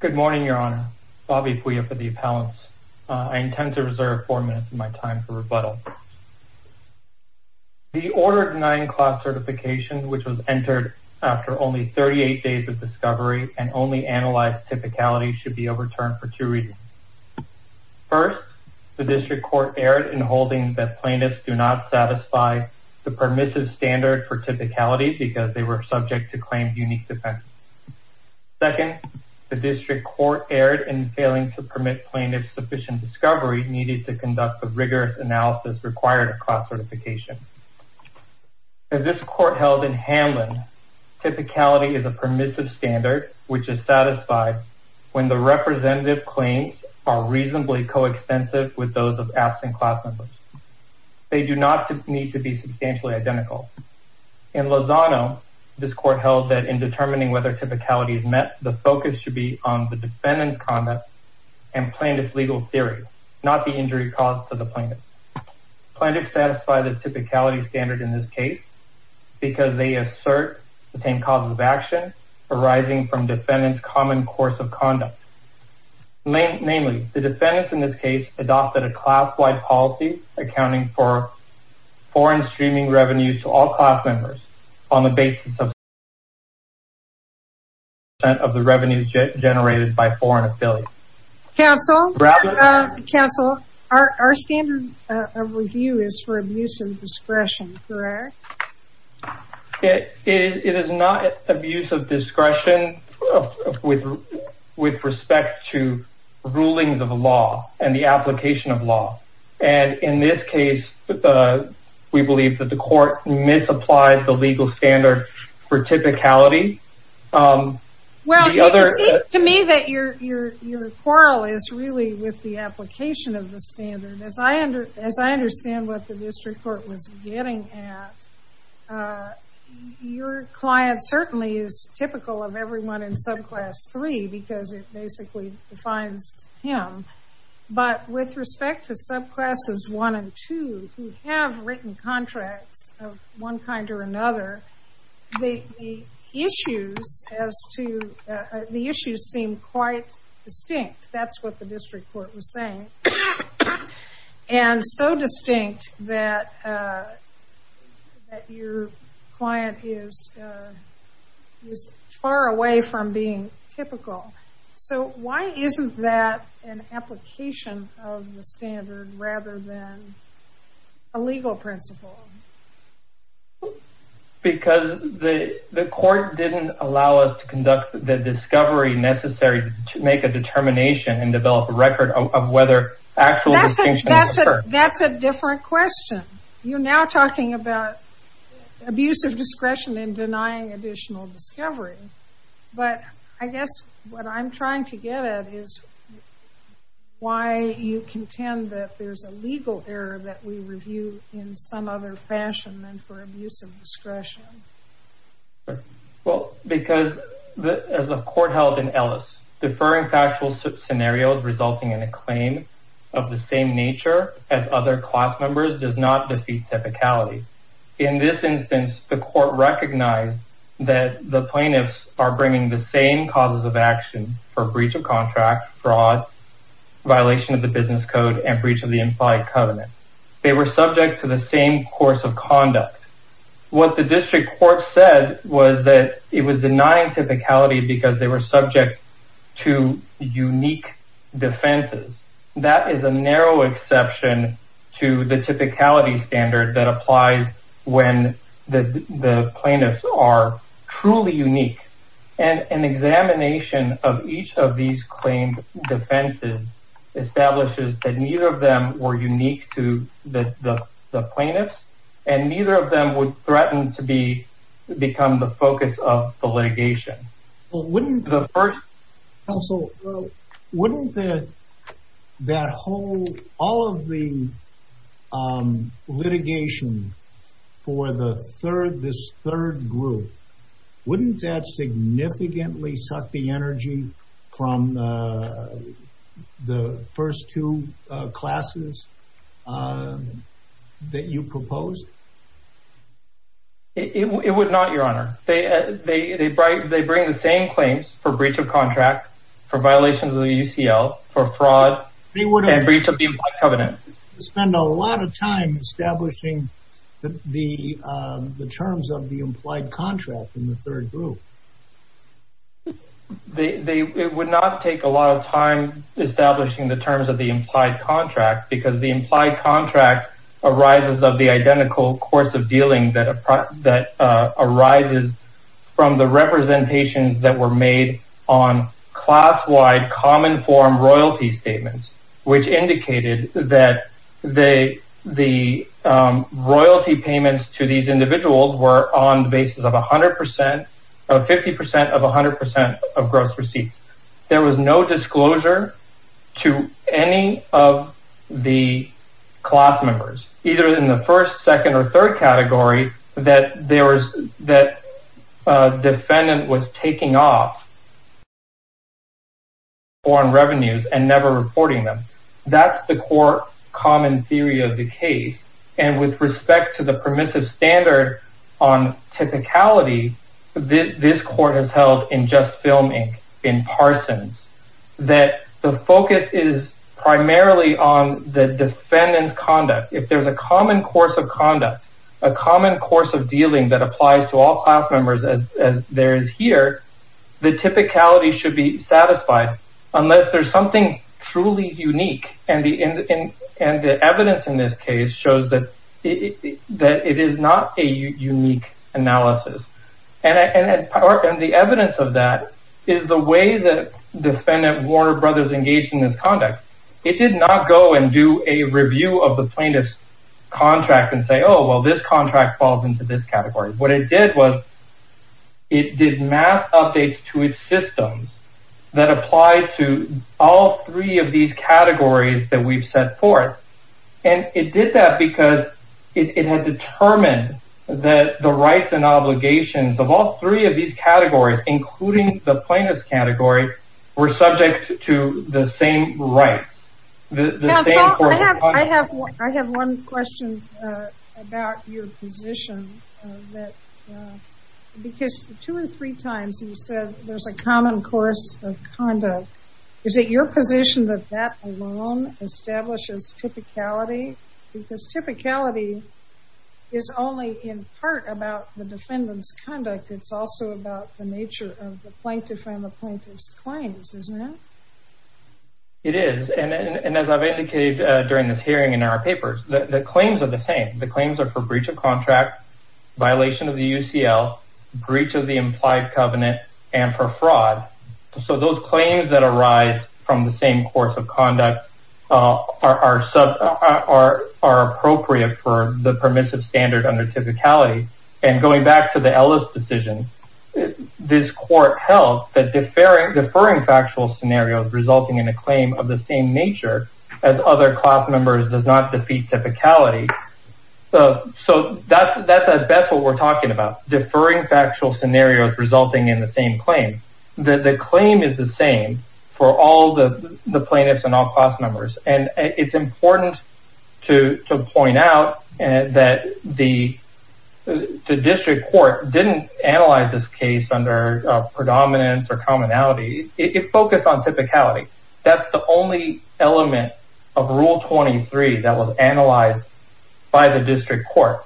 Good morning, your honor Bobby for the appellants. Uh, I intend to reserve four minutes of my time for rebuttal. The order of nine class certification, which was entered after only 38 days of discovery and only analyzed typicality should be overturned for two reasons. First, the district court erred in holding that plaintiffs do not satisfy the permissive standard for typicality because they were subject to claim unique defense. Second, the district court erred in failing to permit plaintiff sufficient discovery needed to conduct the rigorous analysis required across certification. As this court held in Hanlon, typicality is a permissive standard, which is satisfied when the representative claims are reasonably coextensive with those of absent class members, they do not need to be substantially identical. In Lozano, this court held that in determining whether typicality is met, the focus should be on the defendant's comment and plaintiff's legal theory, not the injury caused to the plaintiff. Plaintiffs satisfy the typicality standard in this case, because they assert the same causes of action arising from defendant's common course of conduct. Namely, the defendants in this case adopted a class-wide policy accounting for foreign streaming revenues to all class members on the basis of the revenues generated by foreign affiliates. Council, our standard of review is for abuse of discretion, correct? It is not abuse of discretion with respect to rulings of the law and the application of law. And in this case, we believe that the court misapplied the legal standard for typicality. Well, it seems to me that your quarrel is really with the application of the standard, as I understand what the district court was getting at, your client certainly is typical of everyone in subclass three, because it basically defines him, but with respect to subclasses one and two who have written contracts of one kind or another, the issues seem quite distinct. That's what the district court was saying. And so distinct that your client is far away from being typical. So why isn't that an application of the standard rather than a legal principle? Because the court didn't allow us to conduct the discovery necessary to make a determination and develop a record of whether actual distinction occurred. That's a different question. You're now talking about abuse of discretion in denying additional discovery, but I guess what I'm trying to get at is why you contend that there's a legal error that we review in some other fashion than for abuse of discretion. Well, because as a court held in Ellis, deferring factual scenarios resulting in a claim of the same nature as other class members does not defeat typicality. In this instance, the court recognized that the plaintiffs are bringing the same causes of action for breach of contract, fraud, violation of the business code and breach of the implied covenant. They were subject to the same course of conduct. What the district court said was that it was denying typicality because they were subject to unique defenses. That is a narrow exception to the typicality standard that applies when the plaintiffs are truly unique. And an examination of each of these claimed defenses establishes that neither of them were unique to the plaintiffs and neither of them would threaten to be become the focus of the litigation. Wouldn't that whole, all of the litigation for this third group, wouldn't that significantly suck the energy from the first two classes that you proposed? It would not, your honor. They bring the same claims for breach of contract, for violations of the UCL, for fraud, and breach of the implied covenant. They would spend a lot of time establishing the terms of the implied contract in the third group. They would not take a lot of time establishing the terms of the implied contract because the implied contract arises of the identical course of from the representations that were made on class-wide common form royalty statements, which indicated that the royalty payments to these individuals were on the basis of a hundred percent of 50% of a hundred percent of gross receipts. There was no disclosure to any of the class members, either in the first, second, or third category that a defendant was taking off foreign revenues and never reporting them. That's the core common theory of the case. And with respect to the permissive standard on typicality, this court has held in Just Film Inc., in Parsons, that the focus is primarily on the defendant's common course of conduct, a common course of dealing that applies to all class members as there is here, the typicality should be satisfied unless there's something truly unique. And the evidence in this case shows that it is not a unique analysis. And the evidence of that is the way that defendant Warner Brothers engaged in this conduct. It did not go and do a review of the plaintiff's contract and say, oh, well, this contract falls into this category. What it did was it did math updates to its systems that apply to all three of these categories that we've set forth. And it did that because it had determined that the rights and obligations of all three of these categories, including the plaintiff's category, were subject to the same rights, the same course of conduct. I have one question about your position that, because two or three times you said there's a common course of conduct. Is it your position that that alone establishes typicality? Because typicality is only in part about the defendant's conduct. It's also about the nature of the plaintiff and the plaintiff's claims, isn't it? It is. And as I've indicated during this hearing in our papers, the claims are the same. The claims are for breach of contract, violation of the UCL, breach of the implied covenant, and for fraud. So those claims that arise from the same course of conduct are appropriate for the permissive standard under typicality. And going back to the Ellis decision, this court held that deferring factual scenarios resulting in a claim of the same nature as other class members does not defeat typicality. So that's what we're talking about. Deferring factual scenarios resulting in the same claim. The claim is the same for all the plaintiffs and all class members. And it's important to point out that the district court didn't analyze this case under predominance or commonality. It focused on typicality. That's the only element of rule 23 that was analyzed by the district court.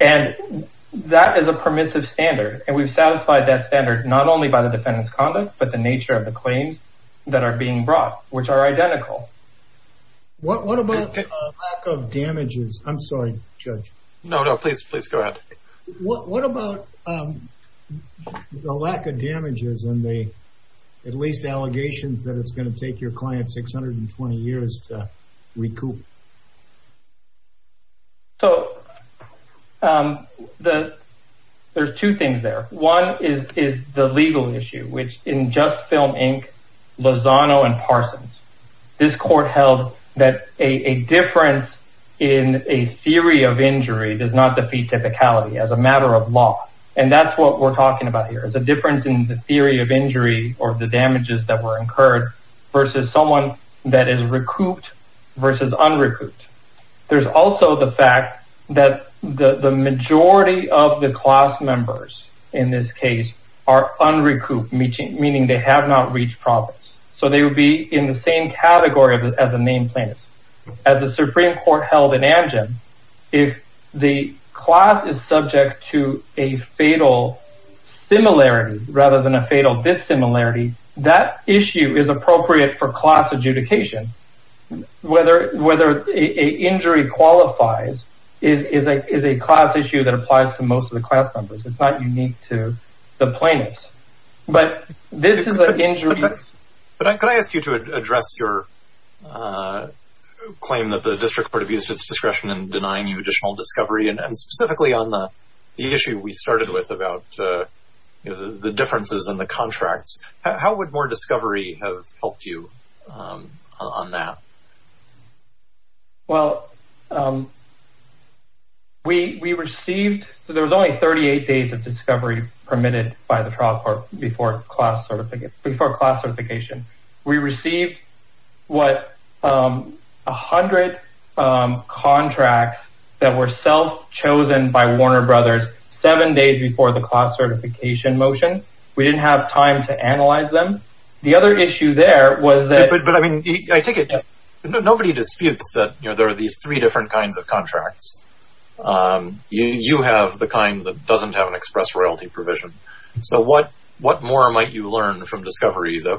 And that is a permissive standard. And we've satisfied that standard, not only by the defendant's conduct, but the nature of the claims that are being brought, which are identical. What about the lack of damages? I'm sorry, Judge. No, no, please, please go ahead. What about the lack of damages and the, at least allegations that it's going to take your client 620 years to recoup? So there's two things there. One is the legal issue, which in Just Film Inc, Lozano and Parsons, this court held that a difference in a theory of injury does not defeat typicality as a matter of law. And that's what we're talking about here is a difference in the theory of injury or the damages that were incurred versus someone that is recouped versus unrecouped. There's also the fact that the majority of the class members in this case are unrecouped, meaning they have not reached profits. So they would be in the same category as a named plaintiff. As the Supreme Court held in Amgen, if the class is subject to a fatal similarity rather than a fatal dissimilarity, that issue is appropriate for class adjudication. Whether a injury qualifies is a class issue that applies to most of the class members, it's not unique to the plaintiffs. But this is an injury. But could I ask you to address your claim that the district court abused its discretion in denying you additional discovery? And specifically on the issue we started with about the differences in the contracts, how would more discovery have helped you on that? Well, we received, so there was only 38 days of discovery permitted by the court before class certification. We received, what, 100 contracts that were self-chosen by Warner Brothers seven days before the class certification motion. We didn't have time to analyze them. The other issue there was that- But I mean, I take it, nobody disputes that there are these three different kinds of contracts. You have the kind that doesn't have an express royalty provision. So what more might you learn from discovery that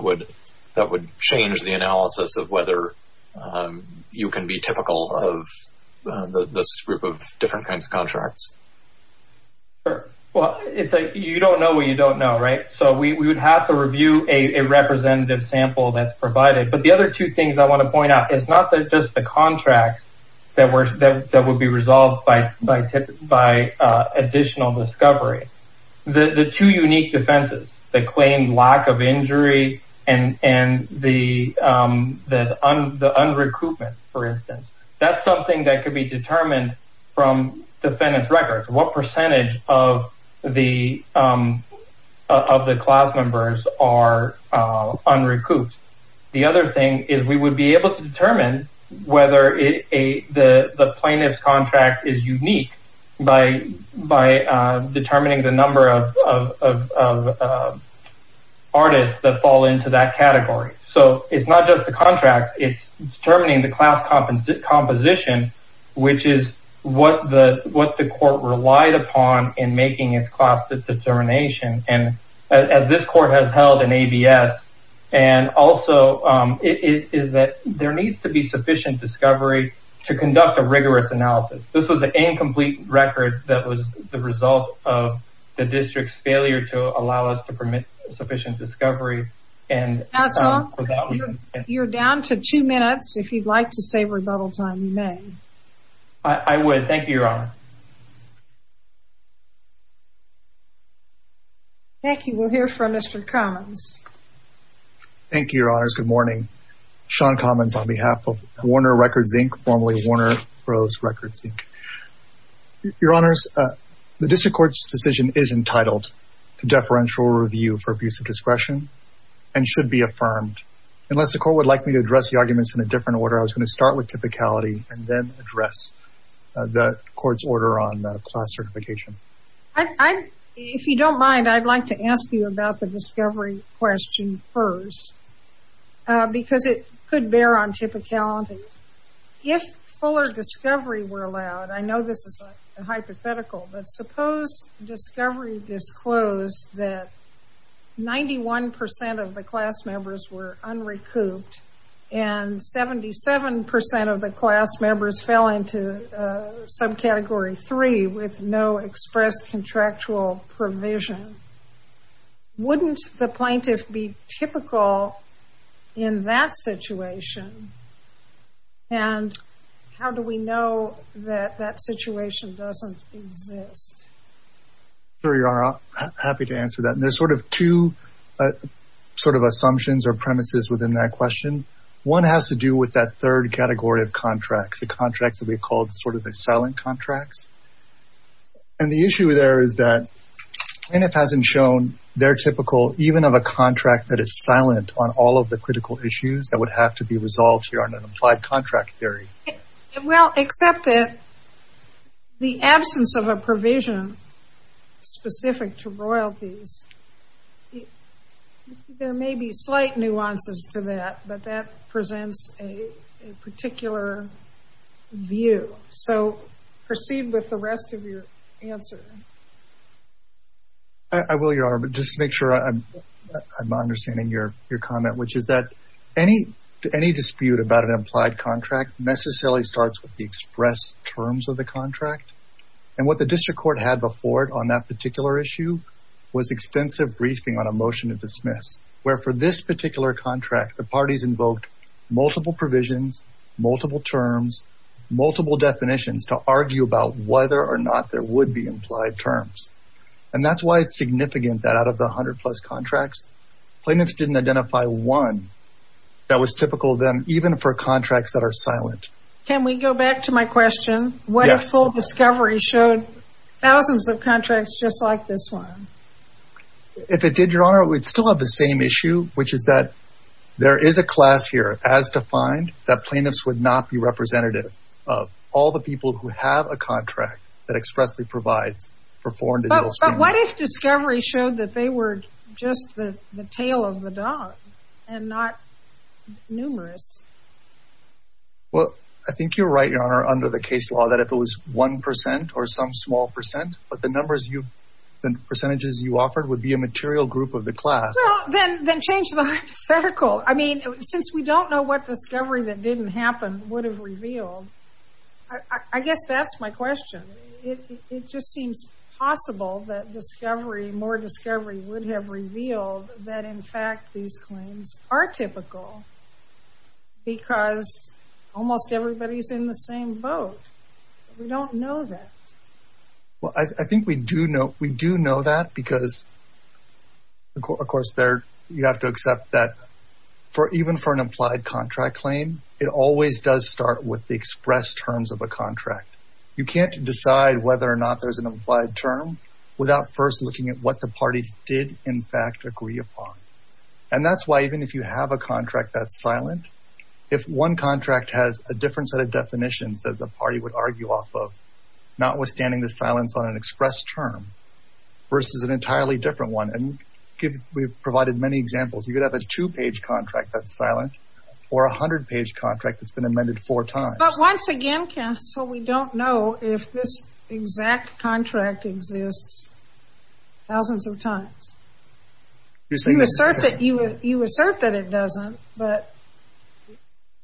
would change the analysis of whether you can be typical of this group of different kinds of contracts? Well, you don't know what you don't know, right? So we would have to review a representative sample that's provided. But the other two things I want to point out, it's not just the contracts that would be resolved by additional discovery. The two unique defenses that claim lack of injury and the unrecoupment, for instance, that's something that could be determined from defendant's records. What percentage of the class members are unrecouped? The other thing is we would be able to determine whether the plaintiff's record is unique by determining the number of artists that fall into that category. So it's not just the contract, it's determining the class composition, which is what the court relied upon in making its class determination. And as this court has held in ABS, and also it is that there needs to be sufficient discovery to conduct a rigorous analysis. This was an incomplete record that was the result of the district's failure to allow us to permit sufficient discovery. And you're down to two minutes. If you'd like to save rebuttal time, you may. I would. Thank you, Your Honor. Thank you. We'll hear from Mr. Commons. Thank you, Your Honors. Good morning. Sean Commons on behalf of Warner Records, Inc. Formerly Warner Bros. Records, Inc. Your Honors, the district court's decision is entitled to deferential review for abuse of discretion and should be affirmed. Unless the court would like me to address the arguments in a different order, I was going to start with typicality and then address the court's order on class certification. If you don't mind, I'd like to ask you about the discovery question first, because it could bear on typicality. If fuller discovery were allowed, I know this is a hypothetical, but suppose discovery disclosed that 91% of the class members were unrecouped and 77% of the class members fell into subcategory three with no express contractual provision. Wouldn't the plaintiff be typical in that situation? And how do we know that that situation doesn't exist? Sure, Your Honor. Happy to answer that. And there's sort of two sort of assumptions or premises within that question. One has to do with that third category of contracts, the contracts that we called sort of the silent contracts. And the issue there is that plaintiff hasn't shown their typical, even of a contract that is silent on all of the critical issues that would have to be resolved here on an applied contract theory. Well, except that the absence of a provision specific to royalties, there may be slight nuances to that, but that presents a particular view. So proceed with the rest of your answer. I will, Your Honor, but just to make sure I'm understanding your comment, which is that any dispute about an applied contract necessarily starts with the express terms of the contract. And what the district court had before it on that particular issue was extensive briefing on a motion of dismiss, where for this particular contract, the parties invoked multiple provisions, multiple terms, multiple definitions to argue about whether or not there would be implied terms. And that's why it's significant that out of the 100 plus contracts, plaintiffs didn't identify one that was typical of them, even for contracts that are silent. Can we go back to my question? What if full discovery showed thousands of contracts just like this one? If it did, Your Honor, we'd still have the same issue, which is that there is a class here as defined that plaintiffs would not be representative of all the people who have a contract that expressly provides for foreign. But what if discovery showed that they were just the tail of the dog and not numerous? Well, I think you're right, Your Honor, under the case law, that if it was one percent or some small percent, but the numbers, the percentages you offered would be a material group of the class. Then change the hypothetical. I mean, since we don't know what discovery that didn't happen would have revealed, I guess that's my question. It just seems possible that discovery, more discovery would have revealed that, in fact, these claims are typical. Because almost everybody's in the same boat, we don't know that. Well, I think we do know that because, of course, you have to accept that even for an implied contract claim, it always does start with the express terms of a contract. You can't decide whether or not there's an implied term without first looking at what the parties did, in fact, agree upon. And that's why even if you have a contract that's silent, if one contract has a different set of definitions that the party would argue off of, notwithstanding the silence on an express term versus an entirely different one. And we've provided many examples. You could have a two-page contract that's silent or a hundred-page contract that's been amended four times. But once again, counsel, we don't know if this exact contract exists thousands of times. You assert that it doesn't, but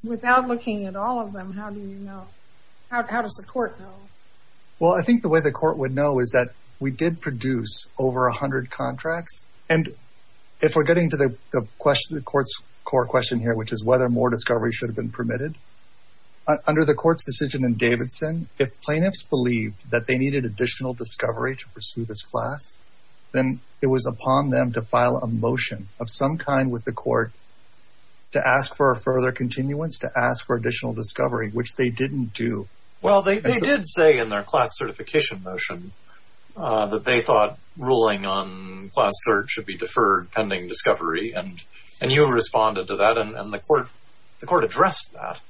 without looking at all of them, how do you know? How does the court know? Well, I think the way the court would know is that we did produce over a hundred contracts. And if we're getting to the court's core question here, which is whether more discovery should have been permitted, under the court's decision in Davidson, if plaintiffs believed that they motion of some kind with the court to ask for a further continuance, to ask for additional discovery, which they didn't do. Well, they did say in their class certification motion that they thought ruling on class search should be deferred pending discovery. And you responded to that. And the court addressed that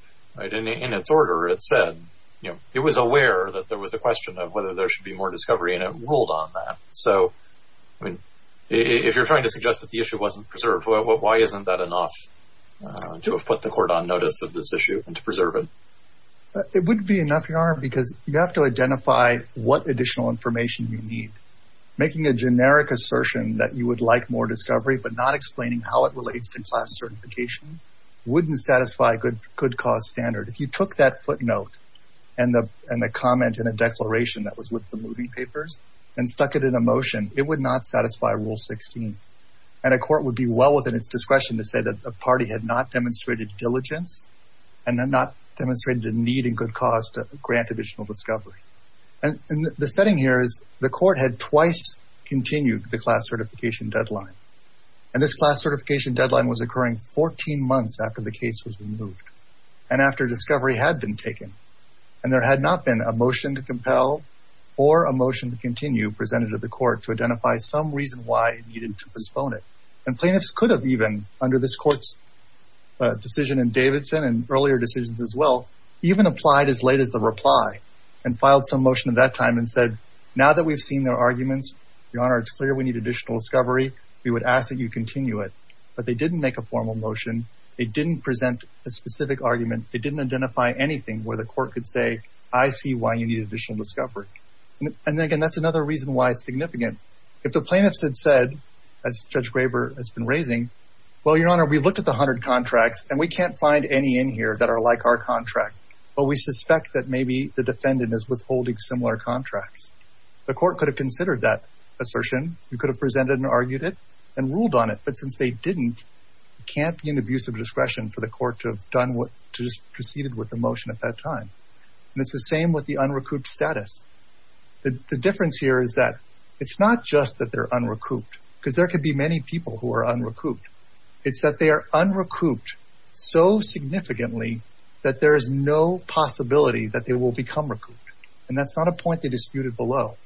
in its order. It said it was aware that there was a question of whether there should be more discovery. And it ruled on that. So, I mean, if you're trying to suggest that the issue wasn't preserved, why isn't that enough to have put the court on notice of this issue and to preserve it? It wouldn't be enough, Your Honor, because you have to identify what additional information you need. Making a generic assertion that you would like more discovery, but not explaining how it relates to class certification, wouldn't satisfy a good cause standard. If you took that footnote and the comment in a declaration that was with the moving motion, it would not satisfy Rule 16. And a court would be well within its discretion to say that a party had not demonstrated diligence and not demonstrated a need and good cause to grant additional discovery. And the setting here is the court had twice continued the class certification deadline. And this class certification deadline was occurring 14 months after the case was removed and after discovery had been taken. And there had not been a motion to compel or a motion to continue presented to the court to identify some reason why it needed to postpone it. And plaintiffs could have even, under this court's decision in Davidson and earlier decisions as well, even applied as late as the reply and filed some motion at that time and said, now that we've seen their arguments, Your Honor, it's clear we need additional discovery. We would ask that you continue it. But they didn't make a formal motion. They didn't present a specific argument. It didn't identify anything where the court could say, I see why you need additional discovery. And then again, that's another reason why it's significant. If the plaintiffs had said, as Judge Graber has been raising, well, Your Honor, we've looked at the hundred contracts and we can't find any in here that are like our contract. But we suspect that maybe the defendant is withholding similar contracts. The court could have considered that assertion. You could have presented and argued it and ruled on it. But since they didn't, it can't be an abuse of discretion for the court to have done what, to just proceeded with the motion at that time. And it's the same with the unrecouped status. The difference here is that it's not just that they're unrecouped because there could be many people who are unrecouped. It's that they are unrecouped so significantly that there is no possibility that they will become recouped. And that's not a point they disputed below.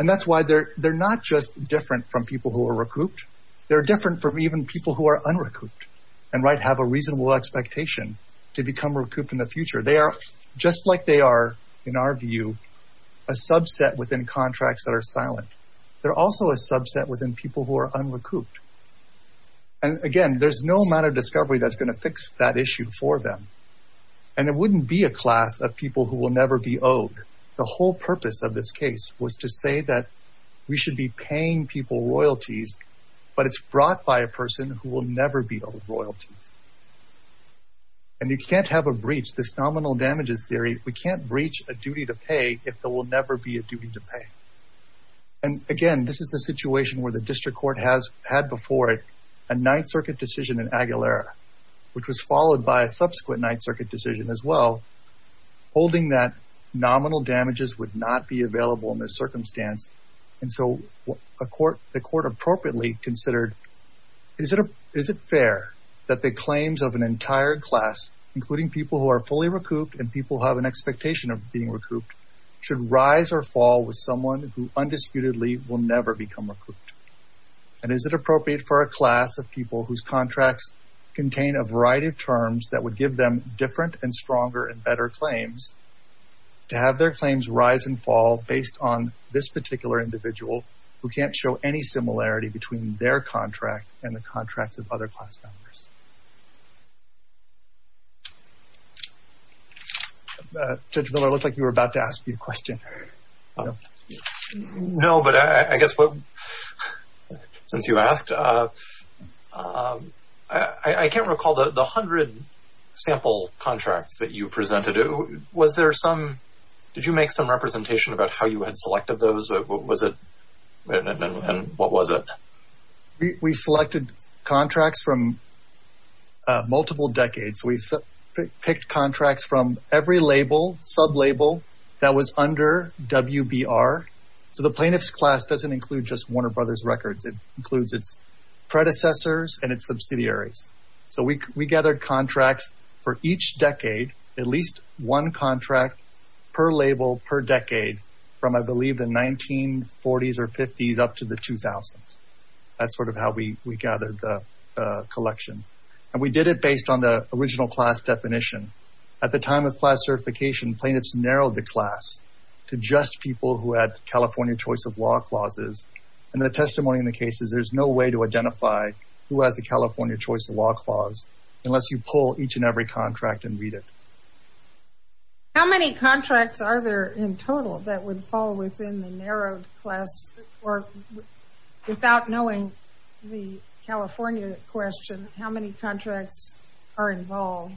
And that's why they're not just different from people who are recouped. They're different from even people who are unrecouped and might have a reasonable expectation to become recouped in the future. They are just like they are, in our view, a subset within contracts that are silent. They're also a subset within people who are unrecouped. And again, there's no amount of discovery that's going to fix that issue for them. And it wouldn't be a class of people who will never be owed. The whole purpose of this case was to say that we should be paying people royalties, but it's brought by a person who will never be owed royalties. And you can't have a breach, this nominal damages theory, we can't breach a duty to pay if there will never be a duty to pay. And again, this is a situation where the district court has had before it a Ninth Circuit decision in Aguilera, which was followed by a subsequent Ninth Circuit decision as well, holding that nominal damages would not be available in this circumstance. And so the court appropriately considered, is it fair that the claims of an entire class, including people who are fully recouped and people who have an expectation of being recouped, should rise or fall with someone who undisputedly will never become recouped? And is it appropriate for a class of people whose contracts contain a variety of terms that would give them different and stronger and better claims to have their claims rise and fall based on this particular individual who can't show any similarity between their contract and the contracts of other class members? Judge Miller, it looked like you were about to ask me a question. No, but I guess since you asked, I can't recall the 100 sample contracts that you presented. Was there some, did you make some representation about how you had selected those? What was it and what was it? We selected contracts from multiple decades. We picked contracts from every label, sub-label that was under WBR. So the plaintiff's class doesn't include just Warner Brothers records. It includes its predecessors and its subsidiaries. So we gathered contracts for each decade, at least one contract per label per decade from, I believe, the 1940s or 50s up to the 2000s. That's sort of how we gathered the collection. And we did it based on the original class definition. At the time of class certification, plaintiffs narrowed the class to just people who had California choice of law clauses. And the testimony in the case is there's no way to identify who has a California choice of law clause unless you pull each and every contract and read it. How many contracts are there in total that would fall within the narrowed class or without knowing the California question, how many contracts are involved?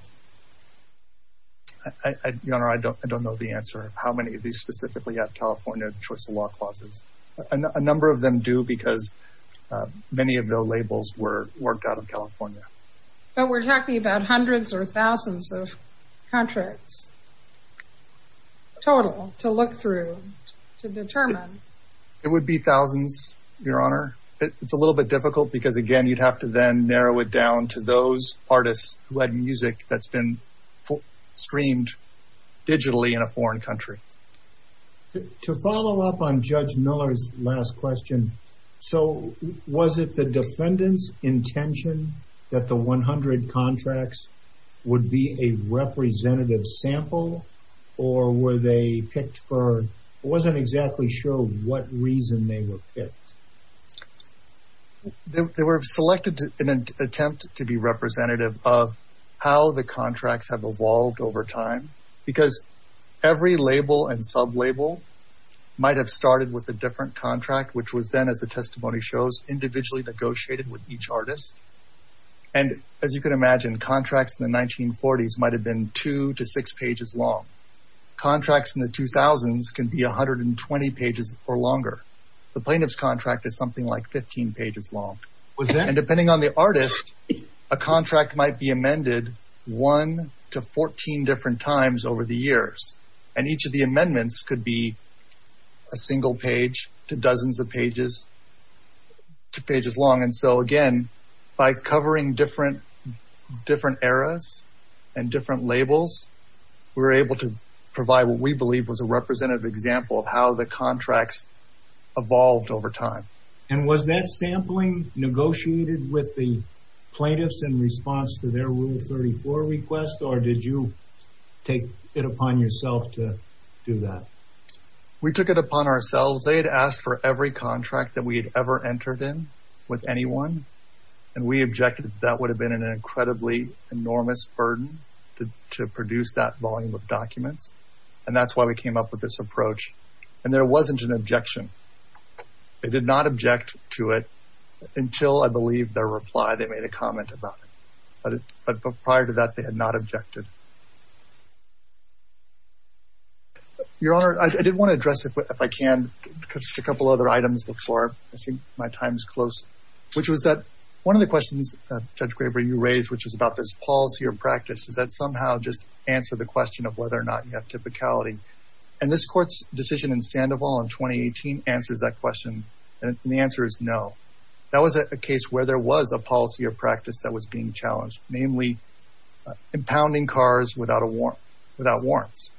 Your Honor, I don't know the answer. How many of these specifically have California choice of law clauses? A number of them do because many of the labels were worked out of California. But we're talking about hundreds or thousands of contracts total to look through to determine. It would be thousands, Your Honor. It's a little bit difficult because again, you'd have to then narrow it down to those artists who had music that's been streamed digitally in a foreign country. To follow up on Judge Miller's last question. So was it the defendant's intention that the 100 contracts would be a representative sample or were they picked for, it wasn't exactly sure what reason they were picked. They were selected in an attempt to be representative of how the contracts have evolved over time. Because every label and sub-label might have started with a different contract, which was then as the testimony shows, individually negotiated with each artist. And as you can imagine, contracts in the 1940s might have been two to six pages long. Contracts in the 2000s can be 120 pages or longer. The plaintiff's contract is something like 15 pages long. And depending on the artist, a contract might be amended one to 14 different times over the years. And each of the amendments could be a single page to dozens of pages, to pages long. And so again, by covering different eras and different labels, we were able to provide what we believe was a representative example of how the contracts evolved over time. And was that sampling negotiated with the plaintiffs in response to their Rule 34 request or did you take it upon yourself to do that? We took it upon ourselves. They had asked for every contract that we had ever entered in with anyone. And we objected that that would have been an incredibly enormous burden to produce that volume of documents. And that's why we came up with this approach. And there wasn't an objection. They did not object to it until I believe their reply. They made a comment about it, but prior to that, they had not objected. Your Honor, I did want to address, if I can, a couple other items before I think my time is close, which was that one of the questions, Judge Graber, you raised, which is about this policy or practice, is that somehow just answer the question of whether or not you have typicality. And this court's decision in Sandoval in 2018 answers that question. And the answer is no. That was a case where there was a policy or practice that was being challenged, namely impounding cars without warrants.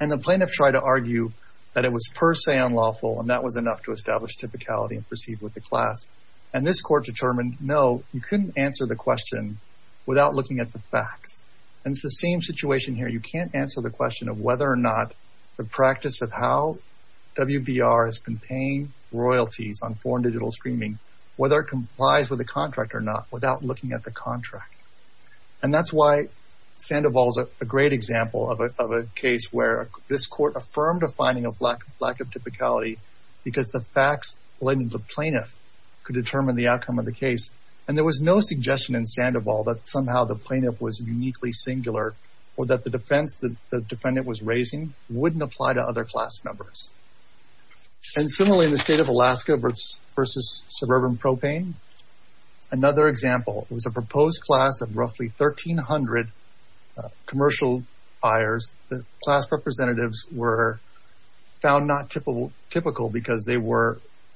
And the plaintiff tried to argue that it was per se unlawful, and that was enough to establish typicality and proceed with the class. And this court determined, no, you couldn't answer the question without looking at the facts. And it's the same situation here. You can't answer the question of whether or not the practice of how WBR has been paying royalties on foreign digital streaming, whether it complies with the contract or not, without looking at the contract. And that's why Sandoval is a great example of a case where this court affirmed a finding of lack of typicality because the facts led the plaintiff to determine the outcome of the case. And there was no suggestion in Sandoval that somehow the plaintiff was uniquely singular or that the defense that the defendant was raising wouldn't apply to other class members. And similarly, in the state of Alaska versus suburban propane, another example was a proposed class of roughly 1,300 commercial buyers. The class representatives were found not typical because they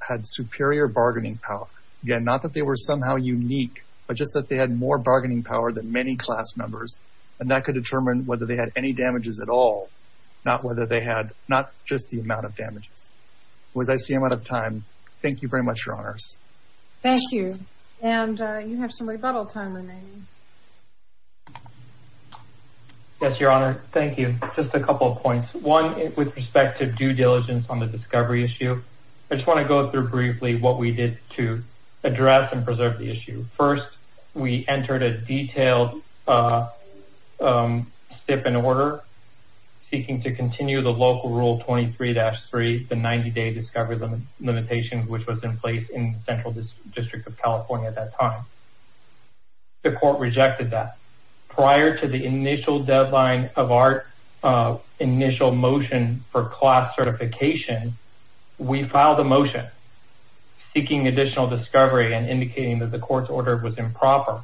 had superior bargaining power. Again, not that they were somehow unique, but just that they had more bargaining power than many class members. And that could determine whether they had any damages at all, not whether they had, not just the amount of damages. Was I saying out of time? Thank you very much, Your Honors. Thank you. And you have some rebuttal time remaining. Yes, Your Honor. Thank you. Just a couple of points. One, with respect to due diligence on the discovery issue, I just want to go through briefly what we did to address and preserve the issue. First, we entered a detailed stip in order seeking to continue the local rule 23-3, the 90-day discovery limitation, which was in place in the Central District of California at that time. The court rejected that. Prior to the initial deadline of our initial motion for class certification, we filed a motion seeking additional discovery and indicating that the court's order was improper.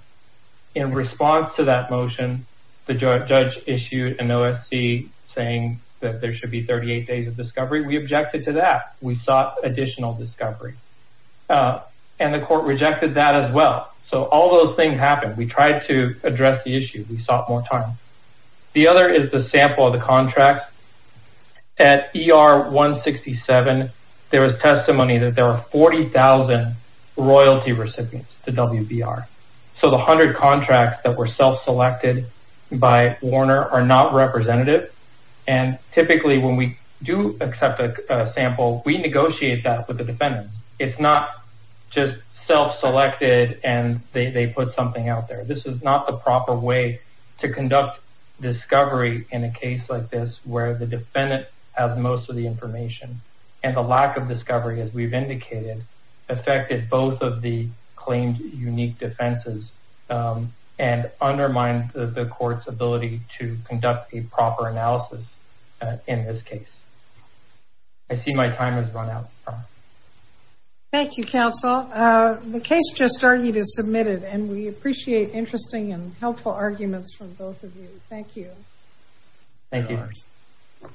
In response to that motion, the judge issued an OSC saying that there should be 38 days of discovery. We objected to that. We sought additional discovery and the court rejected that as well. So all those things happened. We tried to address the issue. We sought more time. The other is the sample of the contracts. At ER 167, there was testimony that there were 40,000 royalty recipients to WBR. So the hundred contracts that were self-selected by Warner are not representative. And typically when we do accept a sample, we negotiate that with the defendant. It's not just self-selected and they put something out there. This is not the proper way to conduct discovery in a case like this where the defendant has most of the information and the lack of discovery, as we've indicated, affected both of the claimed unique defenses and undermined the court's ability to conduct a proper analysis in this case. I see my time has run out. Thank you, counsel. The case just argued is submitted and we appreciate interesting and helpful arguments from both of you. Thank you. Thank you.